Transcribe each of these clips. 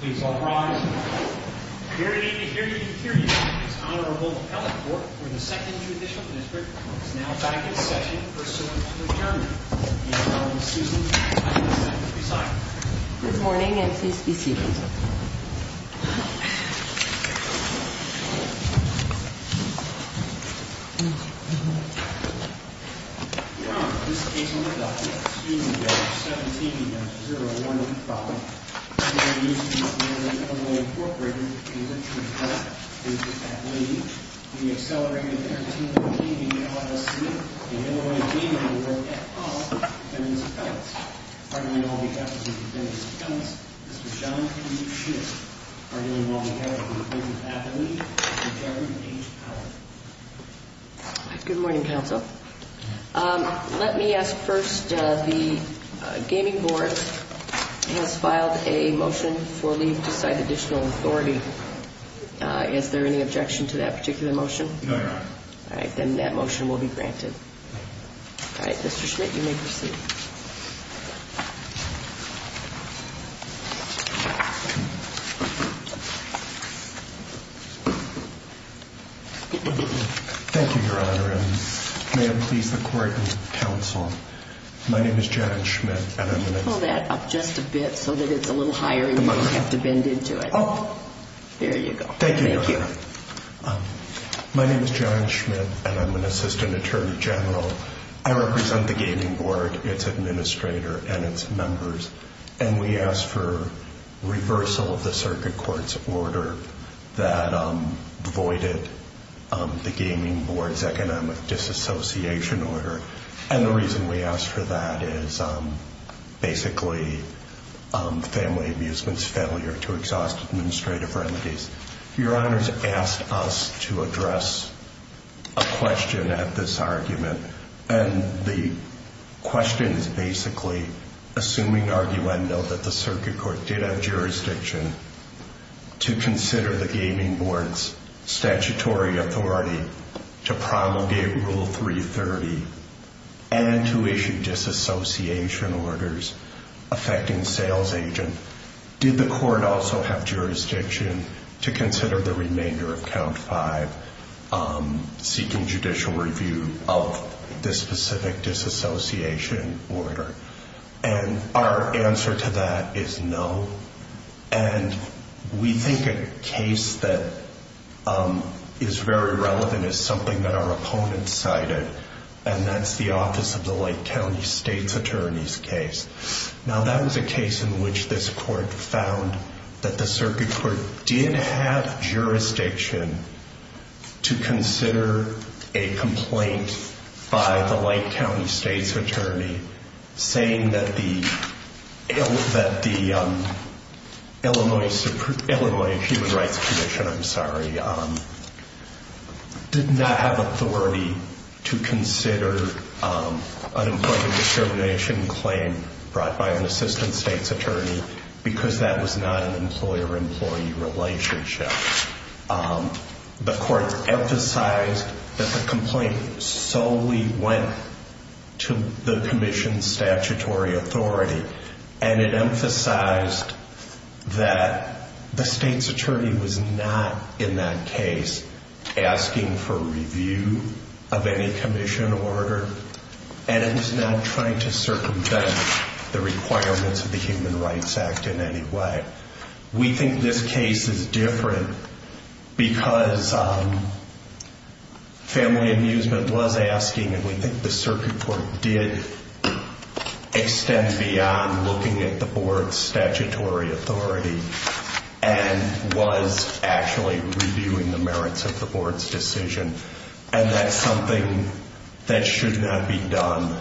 Please all rise. It is an honor to be able to hear you. It is an honor to hold the appellate court for the 2nd Judicial District. It is now time for the session pursuant to adjournment. If you will excuse me. Please be seated. Good morning and please be seated. Your Honor, this case will be adopted. Excuse me, Judge, 17-015. This is a case of Northern Illinois Incorporated, in which an appellate is the appellee. The accelerated entertainment team, the LISC, the Illinois Gaming Board, and also the defendants' appellates. Pardon me while we have the defendants' appellates. This is John P. Schiff. Pardon me while we have the defendant's appellate. This is Jeffrey H. Howard. Good morning, Counsel. Let me ask first, the Gaming Board has filed a motion for leave to cite additional authority. Is there any objection to that particular motion? No, Your Honor. All right, then that motion will be granted. All right, Mr. Schmidt, you may proceed. Thank you, Your Honor, and may it please the Court and Counsel, my name is John Schmidt and I'm an assistant attorney general. Pull that up just a bit so that it's a little higher and you don't have to bend into it. Oh. There you go. Thank you, Your Honor. Thank you. My name is John Schmidt and I'm an assistant attorney general. I represent the Gaming Board. and its members, and we ask for reversal of the circuit court's order that voided the Gaming Board's economic disassociation order. And the reason we ask for that is basically family amusement's failure to exhaust administrative remedies. Your Honor's asked us to address a question at this argument, and the question is basically, assuming arguendo that the circuit court did have jurisdiction to consider the Gaming Board's statutory authority to promulgate Rule 330 and to issue disassociation orders affecting sales agent. Did the court also have jurisdiction to consider the remainder of Count 5 seeking judicial review of this specific disassociation order? And our answer to that is no. And we think a case that is very relevant is something that our opponent cited, and that's the Office of the Lake County State's Attorney's case. Now that was a case in which this court found that the circuit court did have jurisdiction to consider a complaint by the Lake County State's Attorney saying that the Illinois Human Rights Commission, I'm sorry, did not have authority to consider an employee discrimination claim brought by an Assistant State's Attorney because that was not an employer-employee relationship. The court emphasized that the complaint solely went to the Commission's statutory authority, and it emphasized that the State's Attorney was not, in that case, asking for review of any commission order, and it was not trying to circumvent the requirements of the Human Rights Act in any way. We think this case is different because family amusement was asking, and we think the circuit court did extend beyond looking at the board's statutory authority and was actually reviewing the merits of the board's decision, and that's something that should not be done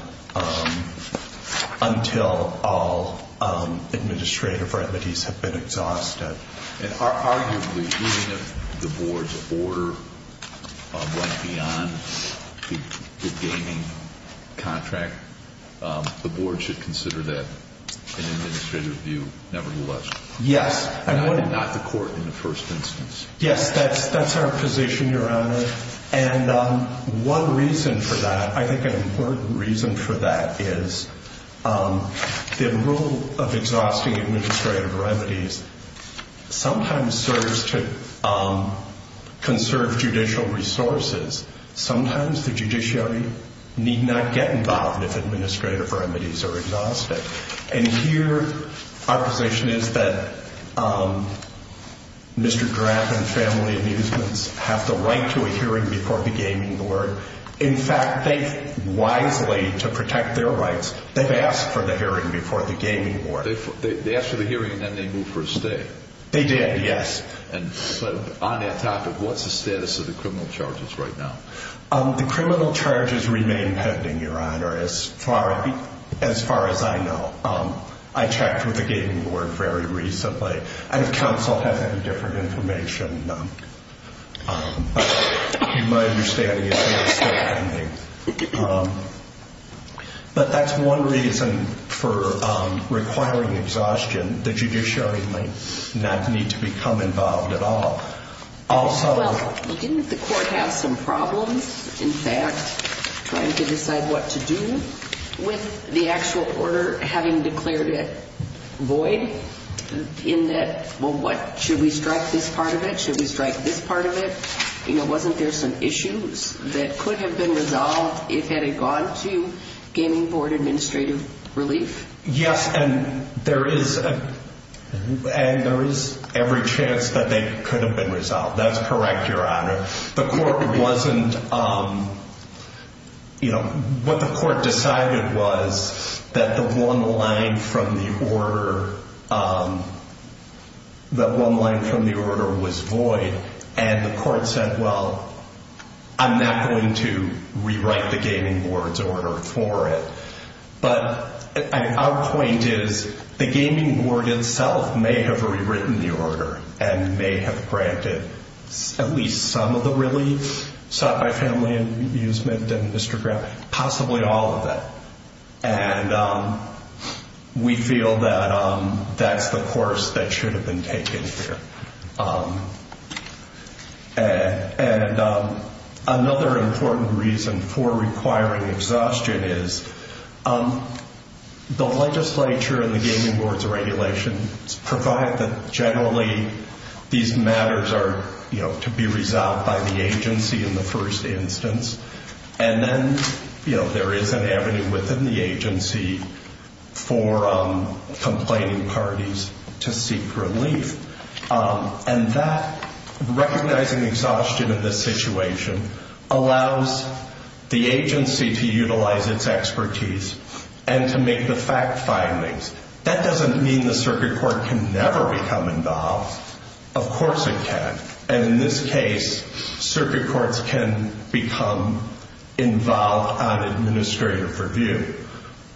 until all administrative remedies have been exhausted. And arguably, even if the board's order went beyond the gaming contract, the board should consider that an administrative review nevertheless. Yes. Not the court in the first instance. Yes, that's our position, Your Honor, and one reason for that, I think an important reason for that, is the rule of exhausting administrative remedies sometimes serves to conserve judicial resources. Sometimes the judiciary need not get involved if administrative remedies are exhausted, and here our position is that Mr. Graff and family amusements have the right to a hearing before the gaming board. In fact, they've wisely, to protect their rights, they've asked for the hearing before the gaming board. They asked for the hearing and then they moved for a stay. They did, yes. And so on that topic, what's the status of the criminal charges right now? The criminal charges remain pending, Your Honor, as far as I know. I checked with the gaming board very recently. I don't have counsel have any different information. My understanding is they are still pending. But that's one reason for requiring exhaustion. The judiciary might not need to become involved at all. Well, didn't the court have some problems, in fact, trying to decide what to do with the actual order, having declared it void in that, well, what, should we strike this part of it? Should we strike this part of it? You know, wasn't there some issues that could have been resolved if it had gone to gaming board administrative relief? Yes, and there is every chance that they could have been resolved. That's correct, Your Honor. The court wasn't, you know, what the court decided was that the one line from the order was void. And the court said, well, I'm not going to rewrite the gaming board's order for it. But our point is the gaming board itself may have rewritten the order and may have granted at least some of the relief sought by family amusement and Mr. Graham, possibly all of that. And we feel that that's the course that should have been taken here. And another important reason for requiring exhaustion is the legislature and the gaming board's regulations provide that generally these matters are, you know, to be resolved by the agency in the first instance. And then, you know, there is an avenue within the agency for complaining parties to seek relief. And that recognizing exhaustion of the situation allows the agency to utilize its expertise and to make the fact findings. That doesn't mean the circuit court can never become involved. Of course it can. And in this case, circuit courts can become involved on administrative review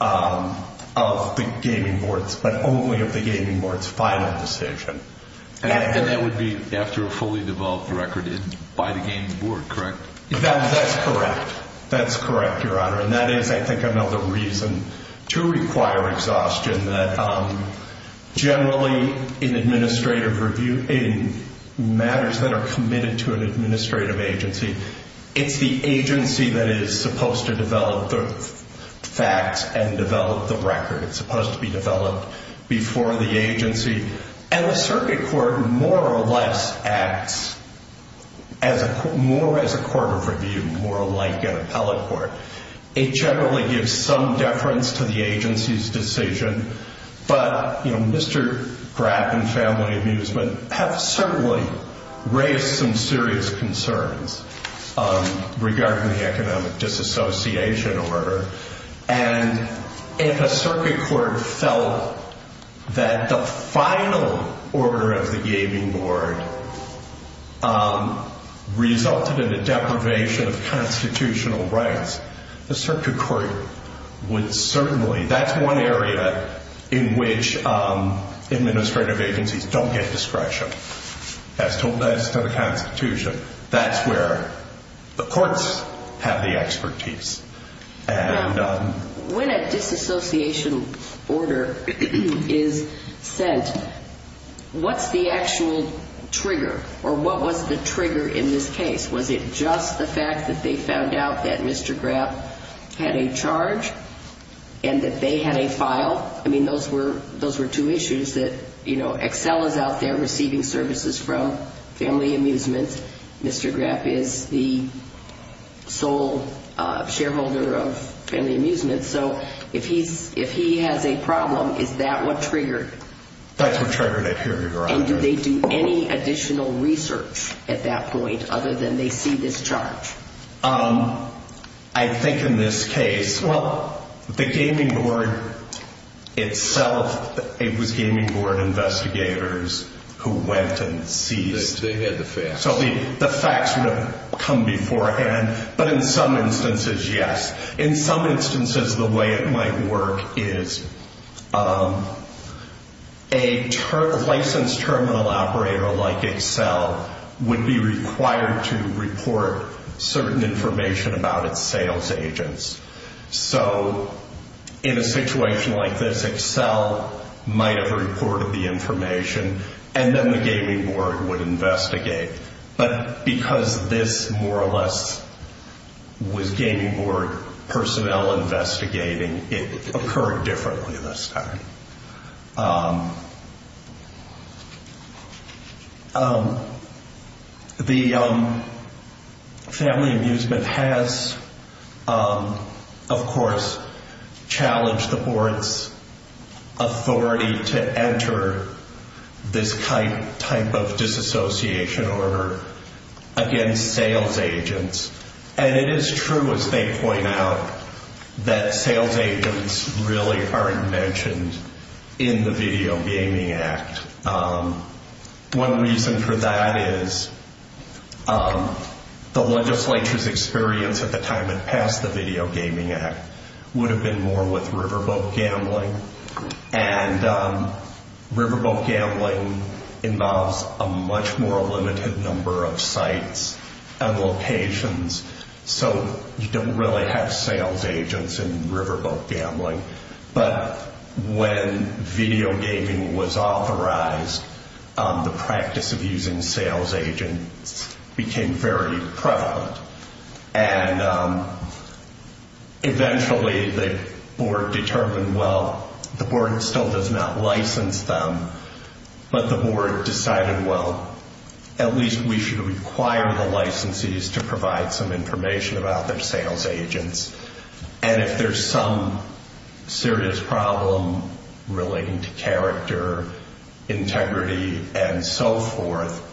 of the gaming board's, but only of the gaming board's final decision. And that would be after a fully developed record by the gaming board, correct? That's correct. That's correct, Your Honor. And that is, I think, another reason to require exhaustion, that generally in administrative review, in matters that are committed to an administrative agency, it's the agency that is supposed to develop the facts and develop the record. It's supposed to be developed before the agency. And the circuit court more or less acts more as a court of review, more like an appellate court. It generally gives some deference to the agency's decision. But, you know, Mr. Graf and Family Amusement have certainly raised some serious concerns regarding the economic disassociation order. And if a circuit court felt that the final order of the gaming board resulted in a deprivation of constitutional rights, the circuit court would certainly, that's one area in which administrative agencies don't get discretion. As told by the Constitution, that's where the courts have the expertise. And when a disassociation order is sent, what's the actual trigger? Or what was the trigger in this case? Was it just the fact that they found out that Mr. Graf had a charge and that they had a file? I mean, those were two issues that, you know, Excel is out there receiving services from Family Amusement. Mr. Graf is the sole shareholder of Family Amusement. So if he has a problem, is that what triggered it? That's what triggered it, Your Honor. And do they do any additional research at that point other than they see this charge? I think in this case, well, the gaming board itself, it was gaming board investigators who went and seized. They had the facts. So the facts would have come beforehand. But in some instances, yes. In some instances, the way it might work is a licensed terminal operator like Excel would be required to report certain information about its sales agents. So in a situation like this, Excel might have reported the information, and then the gaming board would investigate. But because this more or less was gaming board personnel investigating, it occurred differently this time. The Family Amusement has, of course, challenged the board's authority to enter this type of disassociation order against sales agents. And it is true, as they point out, that sales agents really aren't mentioned in the Video Gaming Act. One reason for that is the legislature's experience at the time it passed the Video Gaming Act would have been more with riverboat gambling. And riverboat gambling involves a much more limited number of sites and locations. So you don't really have sales agents in riverboat gambling. But when video gaming was authorized, the practice of using sales agents became very prevalent. And eventually the board determined, well, the board still does not license them. But the board decided, well, at least we should require the licensees to provide some information about their sales agents. And if there's some serious problem relating to character, integrity, and so forth,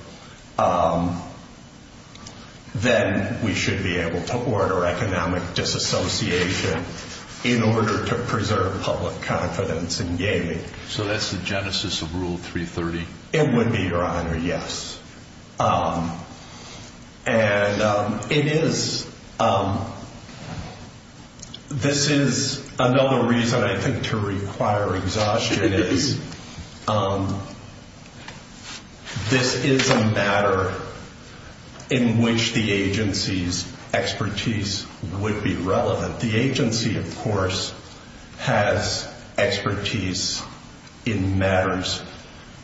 then we should be able to order economic disassociation in order to preserve public confidence in gaming. So that's the genesis of Rule 330? It would be, Your Honor, yes. And this is another reason, I think, to require exhaustion is this is a matter in which the agency's expertise would be relevant. The agency, of course, has expertise in matters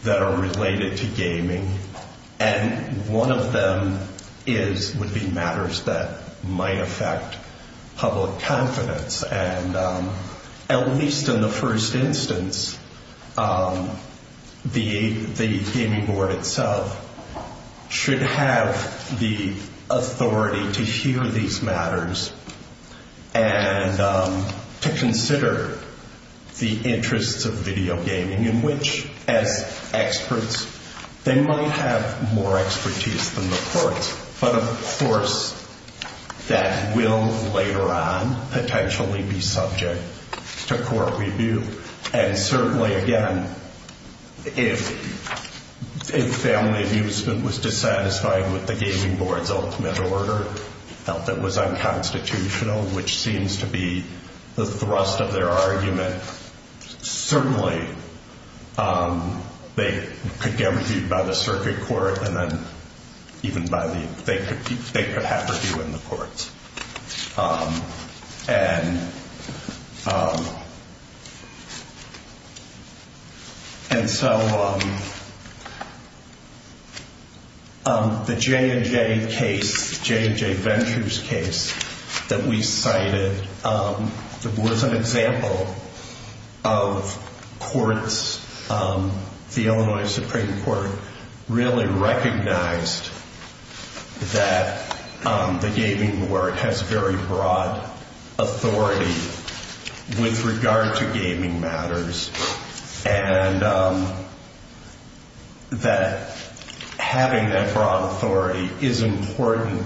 that are related to gaming. And one of them would be matters that might affect public confidence. And at least in the first instance, the gaming board itself should have the authority to hear these matters and to consider the interests of video gaming, in which, as experts, they might have more expertise than the courts. But, of course, that will later on potentially be subject to court review. And certainly, again, if family amusement was dissatisfied with the gaming board's ultimate order that was unconstitutional, which seems to be the thrust of their argument, certainly they could get reviewed by the circuit court and then even by the – they could have review in the courts. And so the J&J case, J&J Ventures case that we cited, that was an example of courts, the Illinois Supreme Court, really recognized that the gaming board, has very broad authority with regard to gaming matters and that having that broad authority is important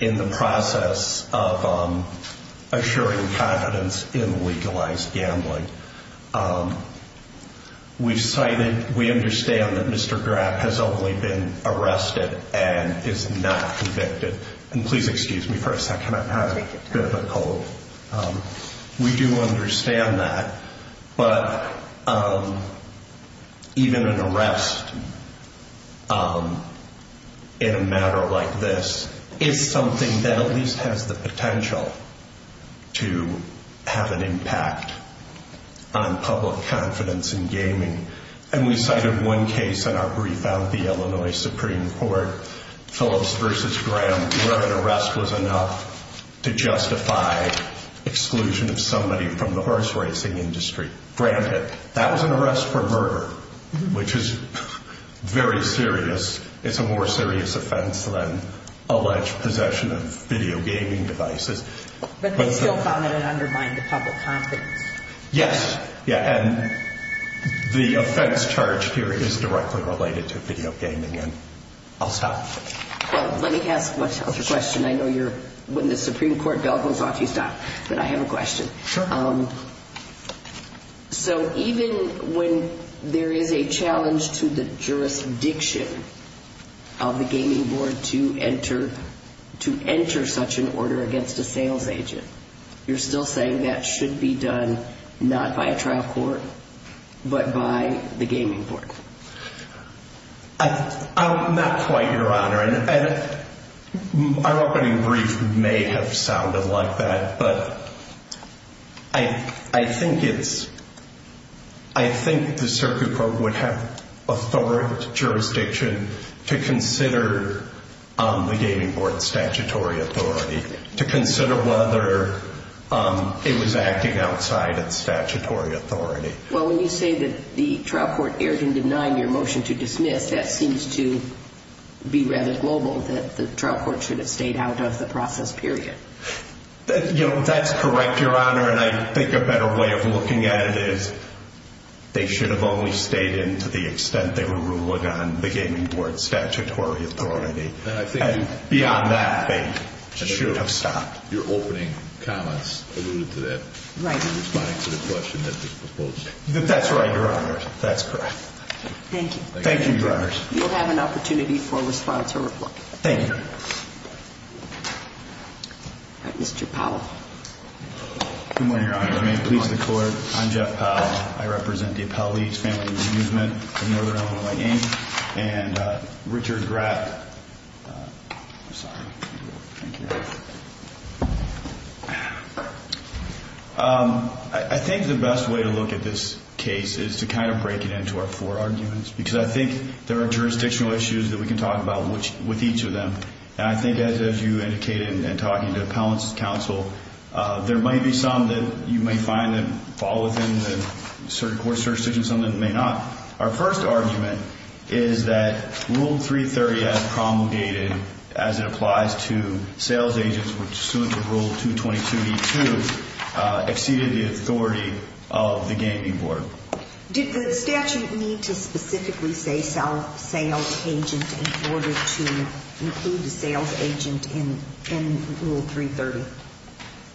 in the process of assuring confidence in legalized gambling. We've cited – we understand that Mr. Graff has only been arrested and is not convicted. And please excuse me for a second. I'm having a bit of a cold. We do understand that. But even an arrest in a matter like this is something that at least has the potential to have an impact on public confidence in gaming. And we cited one case in our brief out of the Illinois Supreme Court, Phillips v. Graham, where an arrest was enough to justify exclusion of somebody from the horse racing industry. Granted, that was an arrest for murder, which is very serious. It's a more serious offense than alleged possession of video gaming devices. But they still found that it undermined the public confidence. Yes. Yeah. And the offense charged here is directly related to video gaming. And I'll stop. Let me ask myself a question. I know you're – when the Supreme Court bell goes off, you stop. But I have a question. Sure. So even when there is a challenge to the jurisdiction of the gaming board to enter – to enter such an order against a sales agent, you're still saying that should be done not by a trial court but by the gaming board? Not quite, Your Honor. And my opening brief may have sounded like that. But I think it's – I think the circuit court would have authority, jurisdiction to consider the gaming board's statutory authority, to consider whether it was acting outside its statutory authority. Well, when you say that the trial court erred in denying your motion to dismiss, that seems to be rather global, that the trial court should have stayed out of the process, period. You know, that's correct, Your Honor. And I think a better way of looking at it is they should have only stayed in to the extent they were ruling on the gaming board's statutory authority. And I think – Beyond that, they should have stopped. Your opening comments alluded to that. Right. Responding to the question that was proposed. That's right, Your Honor. That's correct. Thank you. Thank you, Your Honor. You'll have an opportunity for response or report. Thank you, Your Honor. All right, Mr. Powell. Good morning, Your Honor. May it please the Court, I'm Jeff Powell. I represent the Appellee's Family Renewsment of Northern Illinois Gaming and Richard Graff – I'm sorry. Thank you. I think the best way to look at this case is to kind of break it into our four arguments because I think there are jurisdictional issues that we can talk about with each of them. And I think as you indicated in talking to Appellant's counsel, there might be some that you may find that fall within the court's jurisdiction, some that may not. Our first argument is that Rule 330, as promulgated, as it applies to sales agents pursuant to Rule 222d-2, exceeded the authority of the gaming board. Did the statute need to specifically say sales agent in order to include the sales agent in Rule 330,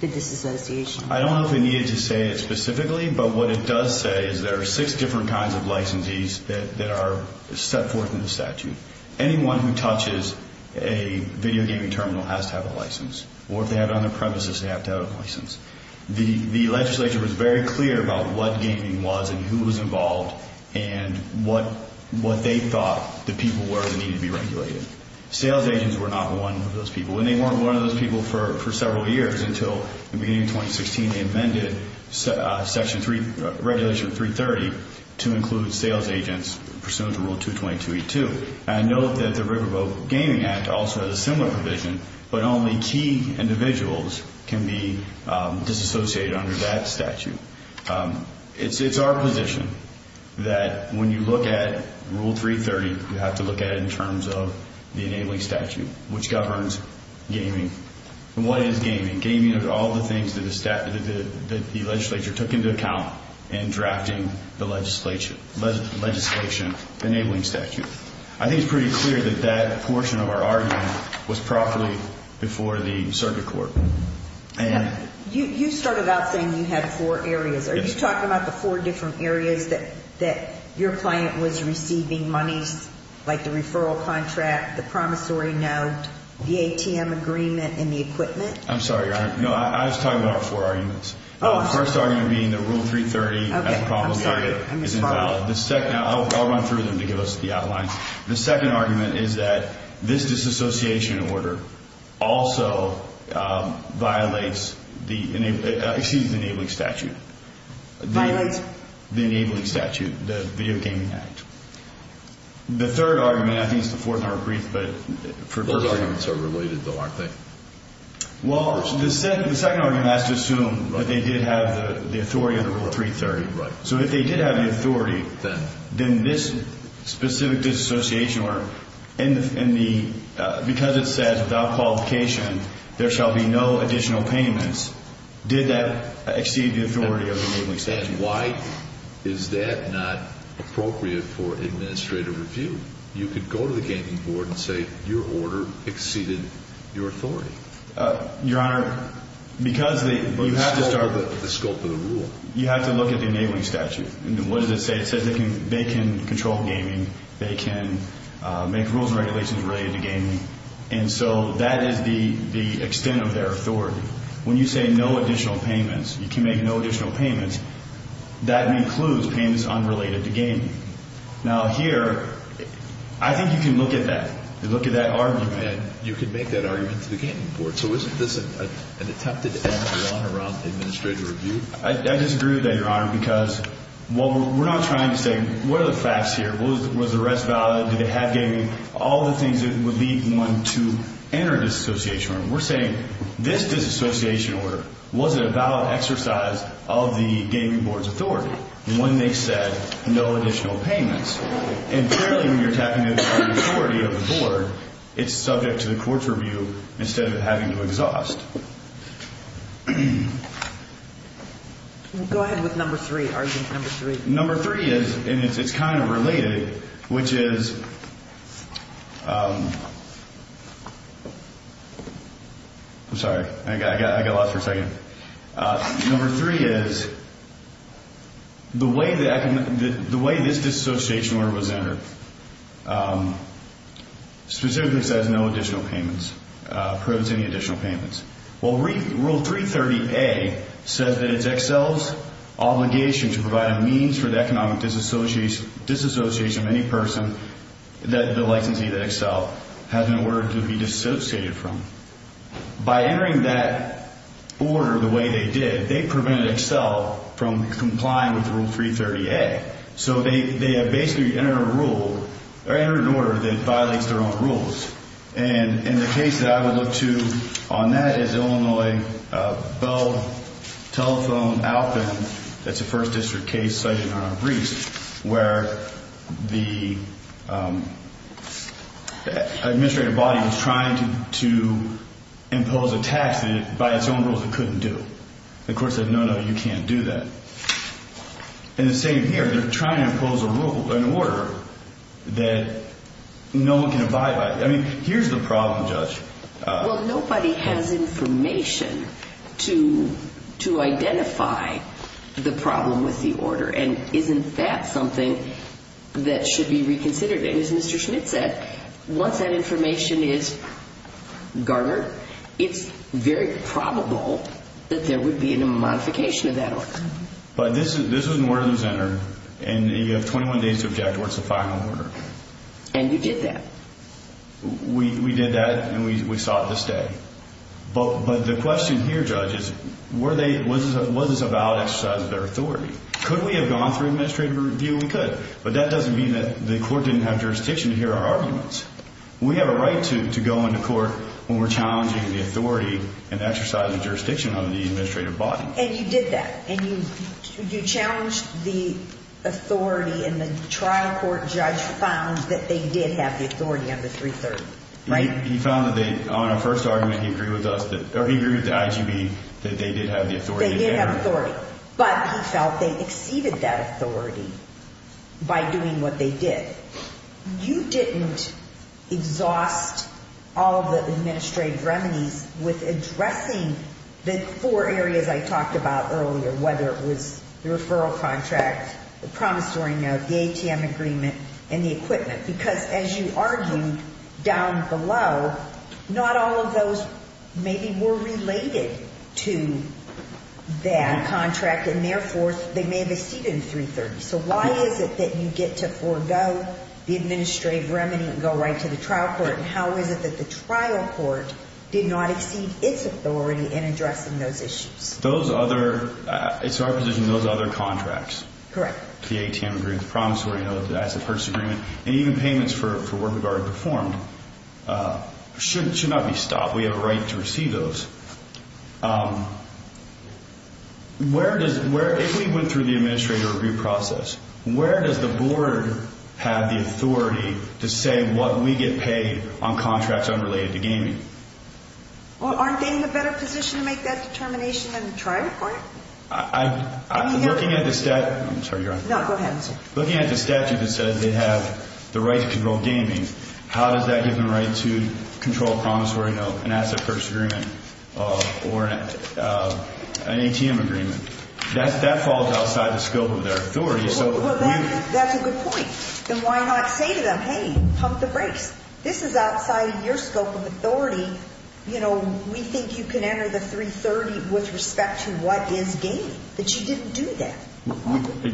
the disassociation? I don't know if it needed to say it specifically, but what it does say is there are six different kinds of licensees that are set forth in the statute. Anyone who touches a video gaming terminal has to have a license, or if they have it on their premises, they have to have a license. The legislature was very clear about what gaming was and who was involved and what they thought the people were that needed to be regulated. Sales agents were not one of those people, and they weren't one of those people for several years until the beginning of 2016, they amended Regulation 330 to include sales agents pursuant to Rule 222d-2. And note that the Riverboat Gaming Act also has a similar provision, but only key individuals can be disassociated under that statute. It's our position that when you look at Rule 330, you have to look at it in terms of the enabling statute, which governs gaming. What is gaming? Gaming is all the things that the legislature took into account in drafting the legislation enabling statute. I think it's pretty clear that that portion of our argument was properly before the circuit court. You started out saying you had four areas. Are you talking about the four different areas that your client was receiving monies, like the referral contract, the promissory note, the ATM agreement, and the equipment? I'm sorry, Your Honor. No, I was talking about our four arguments. The first argument being that Rule 330 as a probable target is invalid. I'll run through them to give us the outlines. The second argument is that this disassociation order also violates the enabling statute. Violates? The enabling statute, the Video Gaming Act. The third argument, I think it's the fourth in our brief, but… Those arguments are related, though, aren't they? Well, the second argument has to assume that they did have the authority under Rule 330. So if they did have the authority, then this specific disassociation order, because it says without qualification there shall be no additional payments, did that exceed the authority of the enabling statute? And why is that not appropriate for administrative review? You could go to the Gaming Board and say your order exceeded your authority. Your Honor, because they… You have to start with the scope of the rule. You have to look at the enabling statute. What does it say? It says they can control gaming. They can make rules and regulations related to gaming. And so that is the extent of their authority. When you say no additional payments, you can make no additional payments, that includes payments unrelated to gaming. Now here, I think you can look at that. If you look at that argument, you can make that argument to the Gaming Board. So isn't this an attempted act, Your Honor, around administrative review? I disagree with that, Your Honor, because what we're not trying to say, what are the facts here? Was the arrest valid? Did they have gaming? All the things that would lead one to enter a disassociation order. We're saying this disassociation order wasn't a valid exercise of the Gaming Board's authority when they said no additional payments. And clearly when you're talking about the authority of the Board, it's subject to the court's review instead of having to exhaust. Go ahead with number three, argument number three. Number three is, and it's kind of related, which is… I'm sorry. I got lost for a second. Number three is, the way this disassociation order was entered specifically says no additional payments, prohibits any additional payments. Well, Rule 330A says that it's Excel's obligation to provide a means for the economic disassociation of any person that the licensee, the Excel, has an order to be dissociated from. By entering that order the way they did, they prevented Excel from complying with Rule 330A. So they have basically entered a rule or entered an order that violates their own rules. And the case that I would look to on that is Illinois Bell Telephone Outland. That's a First District case cited on a briefs where the administrative body was trying to impose a tax that by its own rules it couldn't do. The court said, no, no, you can't do that. And the same here, they're trying to impose an order that no one can abide by. I mean, here's the problem, Judge. Well, nobody has information to identify the problem with the order. And isn't that something that should be reconsidered? As Mr. Schmidt said, once that information is garnered, it's very probable that there would be a modification of that order. But this is an order that was entered, and you have 21 days to object towards the final order. And you did that. We did that, and we sought to stay. But the question here, Judge, is was this a valid exercise of their authority? Could we have gone through administrative review? We could. But that doesn't mean that the court didn't have jurisdiction to hear our arguments. We have a right to go into court when we're challenging the authority and exercising jurisdiction of the administrative body. And you did that. And you challenged the authority, and the trial court judge found that they did have the authority on the 330, right? He found that they, on our first argument, he agreed with us that, or he agreed with the IGB that they did have the authority. They did have authority. But he felt they exceeded that authority by doing what they did. You didn't exhaust all the administrative remedies with addressing the four areas I talked about earlier, whether it was the referral contract, the promissory note, the ATM agreement, and the equipment. Because as you argued down below, not all of those maybe were related to that contract, and therefore, they may have exceeded 330. So why is it that you get to forego the administrative remedy and go right to the trial court, and how is it that the trial court did not exceed its authority in addressing those issues? Those other, it's our position, those other contracts, the ATM agreement, the promissory note, the asset purchase agreement, and even payments for work we've already performed should not be stopped. We have a right to receive those. Where does, if we went through the administrative review process, where does the board have the authority to say what we get paid on contracts unrelated to gaming? Well, aren't they in a better position to make that determination in the trial court? I'm looking at the statute. I'm sorry, Your Honor. No, go ahead. Looking at the statute that says they have the right to control gaming, how does that give them the right to control a promissory note, an asset purchase agreement, or an ATM agreement? That falls outside the scope of their authority. Well, that's a good point. Then why not say to them, hey, pump the brakes? This is outside your scope of authority. You know, we think you can enter the 330 with respect to what is gaming, that you didn't do that.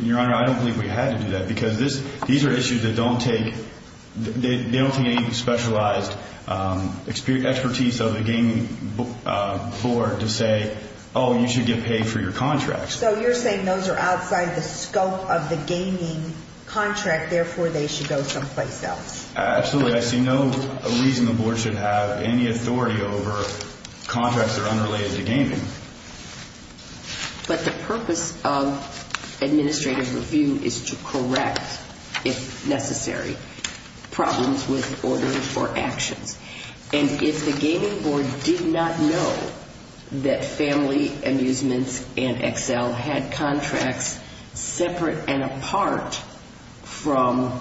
Your Honor, I don't believe we had to do that because these are issues that don't take, they don't take any specialized expertise of the gaming board to say, oh, you should get paid for your contracts. So you're saying those are outside the scope of the gaming contract, therefore they should go someplace else. Absolutely. I see no reason the board should have any authority over contracts that are unrelated to gaming. But the purpose of administrative review is to correct, if necessary, problems with orders or actions. And if the gaming board did not know that Family Amusements and Excel had contracts separate and apart from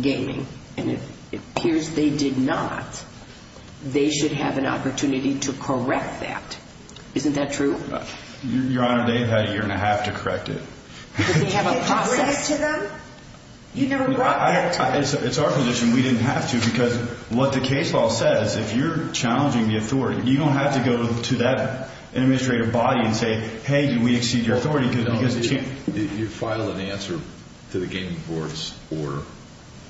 gaming, and it appears they did not, they should have an opportunity to correct that. Isn't that true? Your Honor, they've had a year and a half to correct it. Did they have a process? Did you bring it to them? You never brought that to them. It's our position. We didn't have to because what the case law says, if you're challenging the authority, you don't have to go to that administrative body and say, hey, did we exceed your authority? No, you didn't. You filed an answer to the gaming board's order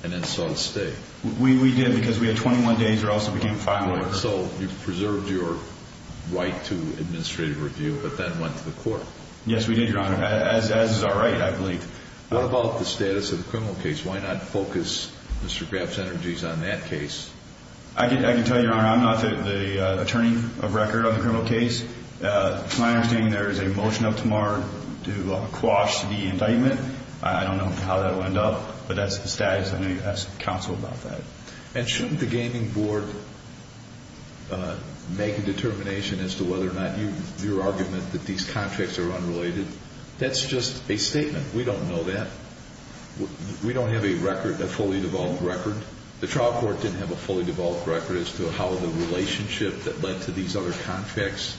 and then saw it stay. We did because we had 21 days or else it became final. So you preserved your right to administrative review but then went to the court. Yes, we did, Your Honor. As is our right, I believe. What about the status of the criminal case? Why not focus Mr. Graf's energies on that case? I can tell you, Your Honor, I'm not the attorney of record on the criminal case. To my understanding, there is a motion up tomorrow to quash the indictment. I don't know how that will end up, but that's the status. I'm going to ask counsel about that. And shouldn't the gaming board make a determination as to whether or not your argument that these contracts are unrelated? That's just a statement. We don't know that. We don't have a record, a fully developed record. The trial court didn't have a fully developed record as to how the relationship that led to these other contracts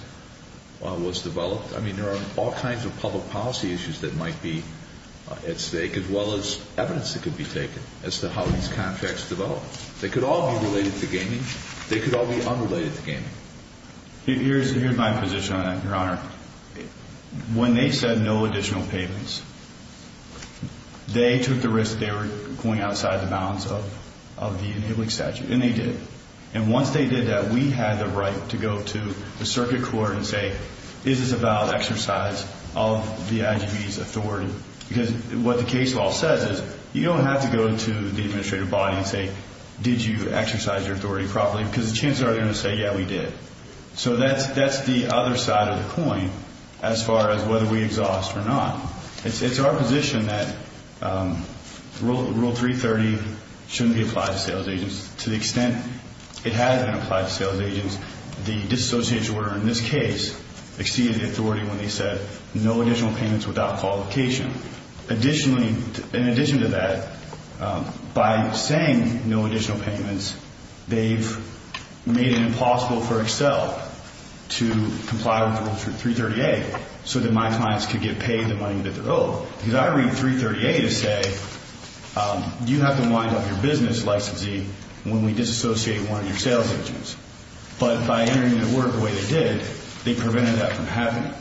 was developed. I mean, there are all kinds of public policy issues that might be at stake as well as evidence that could be taken as to how these contracts developed. They could all be related to gaming. They could all be unrelated to gaming. Here's my position on that, Your Honor. When they said no additional payments, they took the risk they were going outside the bounds of the inhibited statute, and they did. And once they did that, we had the right to go to the circuit court and say, is this about exercise of the IGB's authority? Because what the case law says is you don't have to go to the administrative body and say, did you exercise your authority properly? Because the chances are they're going to say, yeah, we did. So that's the other side of the coin as far as whether we exhaust or not. It's our position that Rule 330 shouldn't be applied to sales agents. To the extent it has been applied to sales agents, the disassociation order in this case exceeded the authority when they said no additional payments without qualification. In addition to that, by saying no additional payments, they've made it impossible for Excel to comply with Rule 330A so that my clients could get paid the money that they're owed. Because I read 330A to say you have to wind up your business licensee when we disassociate one of your sales agents. But by entering the order the way they did, they prevented that from happening.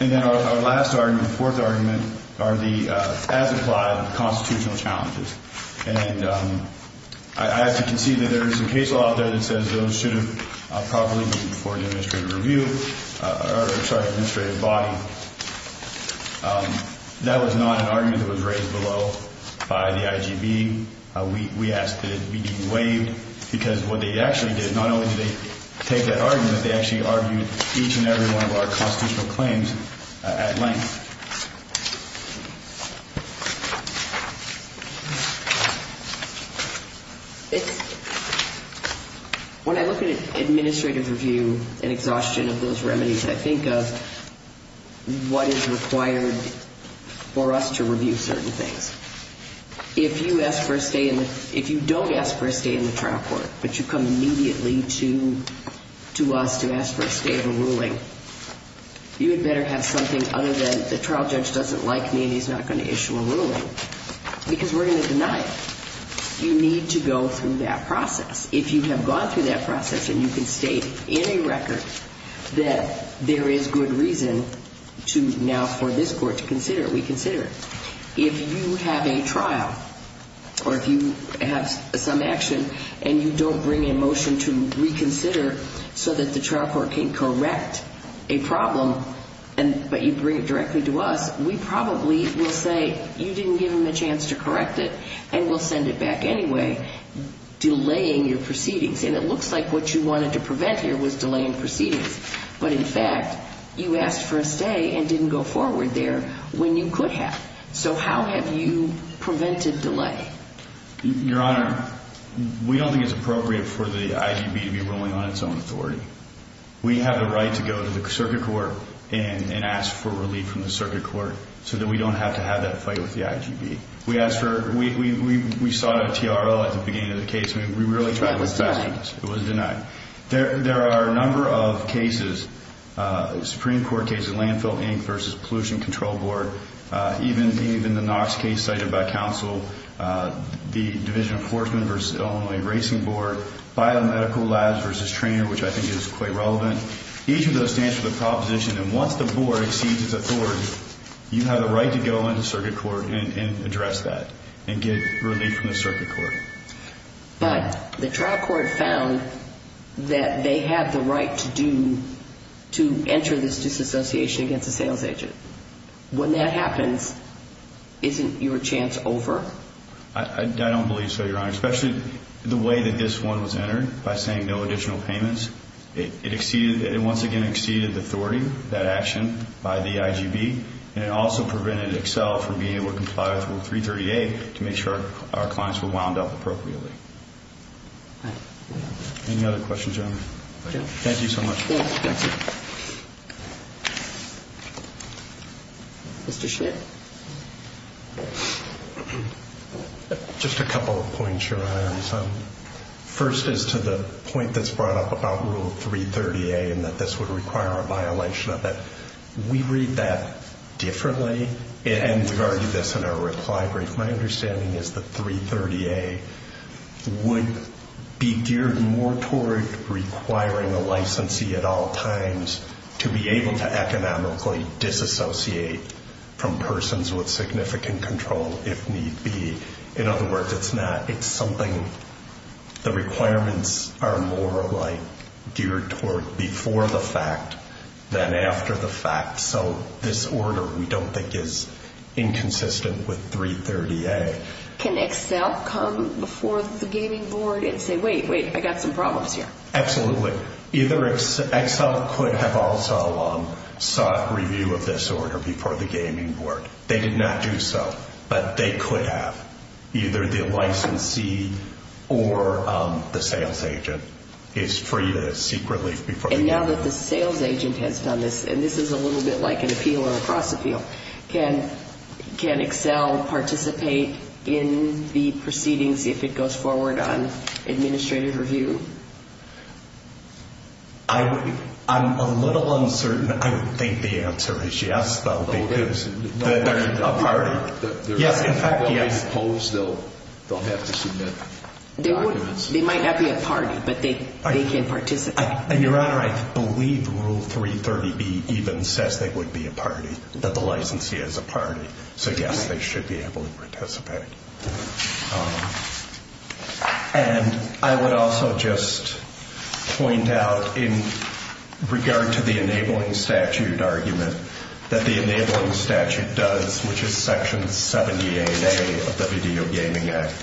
And then our last argument, fourth argument, are the as-implied constitutional challenges. And I have to concede that there is some case law out there that says those should have properly been for an administrative review or, sorry, administrative body. That was not an argument that was raised below by the IGB. We asked that it be de-waived because what they actually did, not only did they take that argument, they actually argued each and every one of our constitutional claims at length. When I look at an administrative review and exhaustion of those remedies, I think of what is required for us to review certain things. If you don't ask for a stay in the trial court, but you come immediately to us to ask for a stay of a ruling, you had better have something other than the trial judge doesn't like me and he's not going to issue a ruling because we're going to deny it. You need to go through that process. If you have gone through that process and you can state in a record that there is good reason now for this court to consider it, we consider it. If you have a trial or if you have some action and you don't bring a motion to reconsider so that the trial court can correct a problem, but you bring it directly to us, we probably will say you didn't give them a chance to correct it and we'll send it back anyway, delaying your proceedings. And it looks like what you wanted to prevent here was delaying proceedings. But, in fact, you asked for a stay and didn't go forward there when you could have. So how have you prevented delay? Your Honor, we don't think it's appropriate for the IGB to be ruling on its own authority. We have the right to go to the circuit court and ask for relief from the circuit court so that we don't have to have that fight with the IGB. We sought out a TRO at the beginning of the case. We really tried to fasten it. It was denied. It was denied. There are a number of cases, Supreme Court cases, such as the Landfill Inc. v. Pollution Control Board, even the Knox case cited by counsel, the Division of Enforcement v. Illinois Racing Board, Biomedical Labs v. Trainer, which I think is quite relevant. Each of those stands for the proposition that once the board exceeds its authority, you have a right to go into circuit court and address that and get relief from the circuit court. But the trial court found that they have the right to do, to enter this disassociation against a sales agent. When that happens, isn't your chance over? I don't believe so, Your Honor, especially the way that this one was entered by saying no additional payments. It exceeded, it once again exceeded the authority, that action by the IGB, and it also prevented Excel from being able to comply with Rule 338 to make sure our clients were wound up appropriately. Any other questions, Your Honor? Thank you so much. Mr. Schmidt? Just a couple of points, Your Honor. First is to the point that's brought up about Rule 330A and that this would require a violation of it. We read that differently, and we've argued this in our reply brief. My understanding is that 330A would be geared more toward requiring a licensee at all times to be able to economically disassociate from persons with significant control if need be. In other words, it's not, it's something, the requirements are more like geared toward before the fact than after the fact. So this order, we don't think, is inconsistent with 330A. Can Excel come before the gaming board and say, wait, wait, I've got some problems here? Absolutely. Either Excel could have also sought review of this order before the gaming board. They did not do so, but they could have. Either the licensee or the sales agent is free to seek relief before the gaming board. And now that the sales agent has done this, and this is a little bit like an appeal or a cross-appeal, can Excel participate in the proceedings if it goes forward on administrative review? I'm a little uncertain. I would think the answer is yes, though, because they're a party. Yes, in fact, yes. I suppose they'll have to submit documents. They might not be a party, but they can participate. Your Honor, I believe Rule 330B even says they would be a party, that the licensee is a party. So yes, they should be able to participate. And I would also just point out, in regard to the enabling statute argument, that the enabling statute does, which is Section 78A of the Video Gaming Act,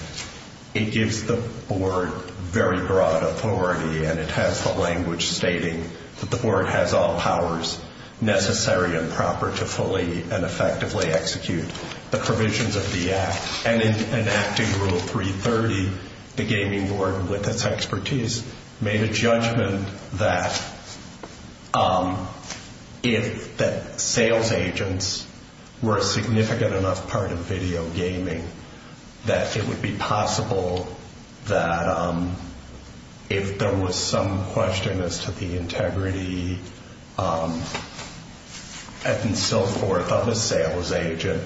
it gives the board very broad authority and it has the language stating that the board has all powers necessary and proper to fully and effectively execute the provisions of the act. And in enacting Rule 330, the gaming board, with its expertise, made a judgment that if the sales agents were a significant enough part of video gaming, that it would be possible that if there was some question as to the integrity and so forth of a sales agent,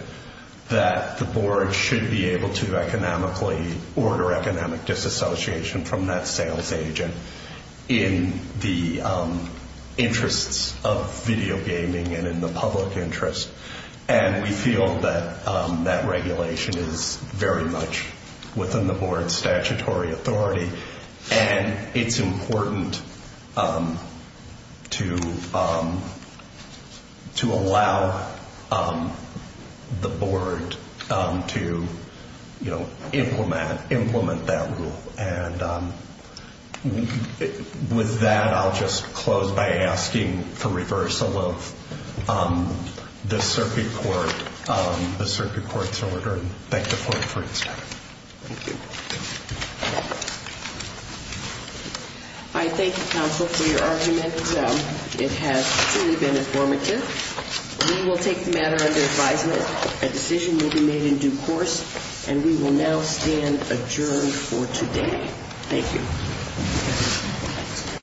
that the board should be able to economically order economic disassociation from that sales agent in the interests of video gaming and in the public interest. And we feel that that regulation is very much within the board's statutory authority. And it's important to allow the board to implement that rule. And with that, I'll just close by asking for reversal of the Circuit Court's order. Thank you for your time. Thank you. I thank the counsel for your argument. It has truly been informative. We will take the matter under advisement. A decision will be made in due course. And we will now stand adjourned for today. Thank you.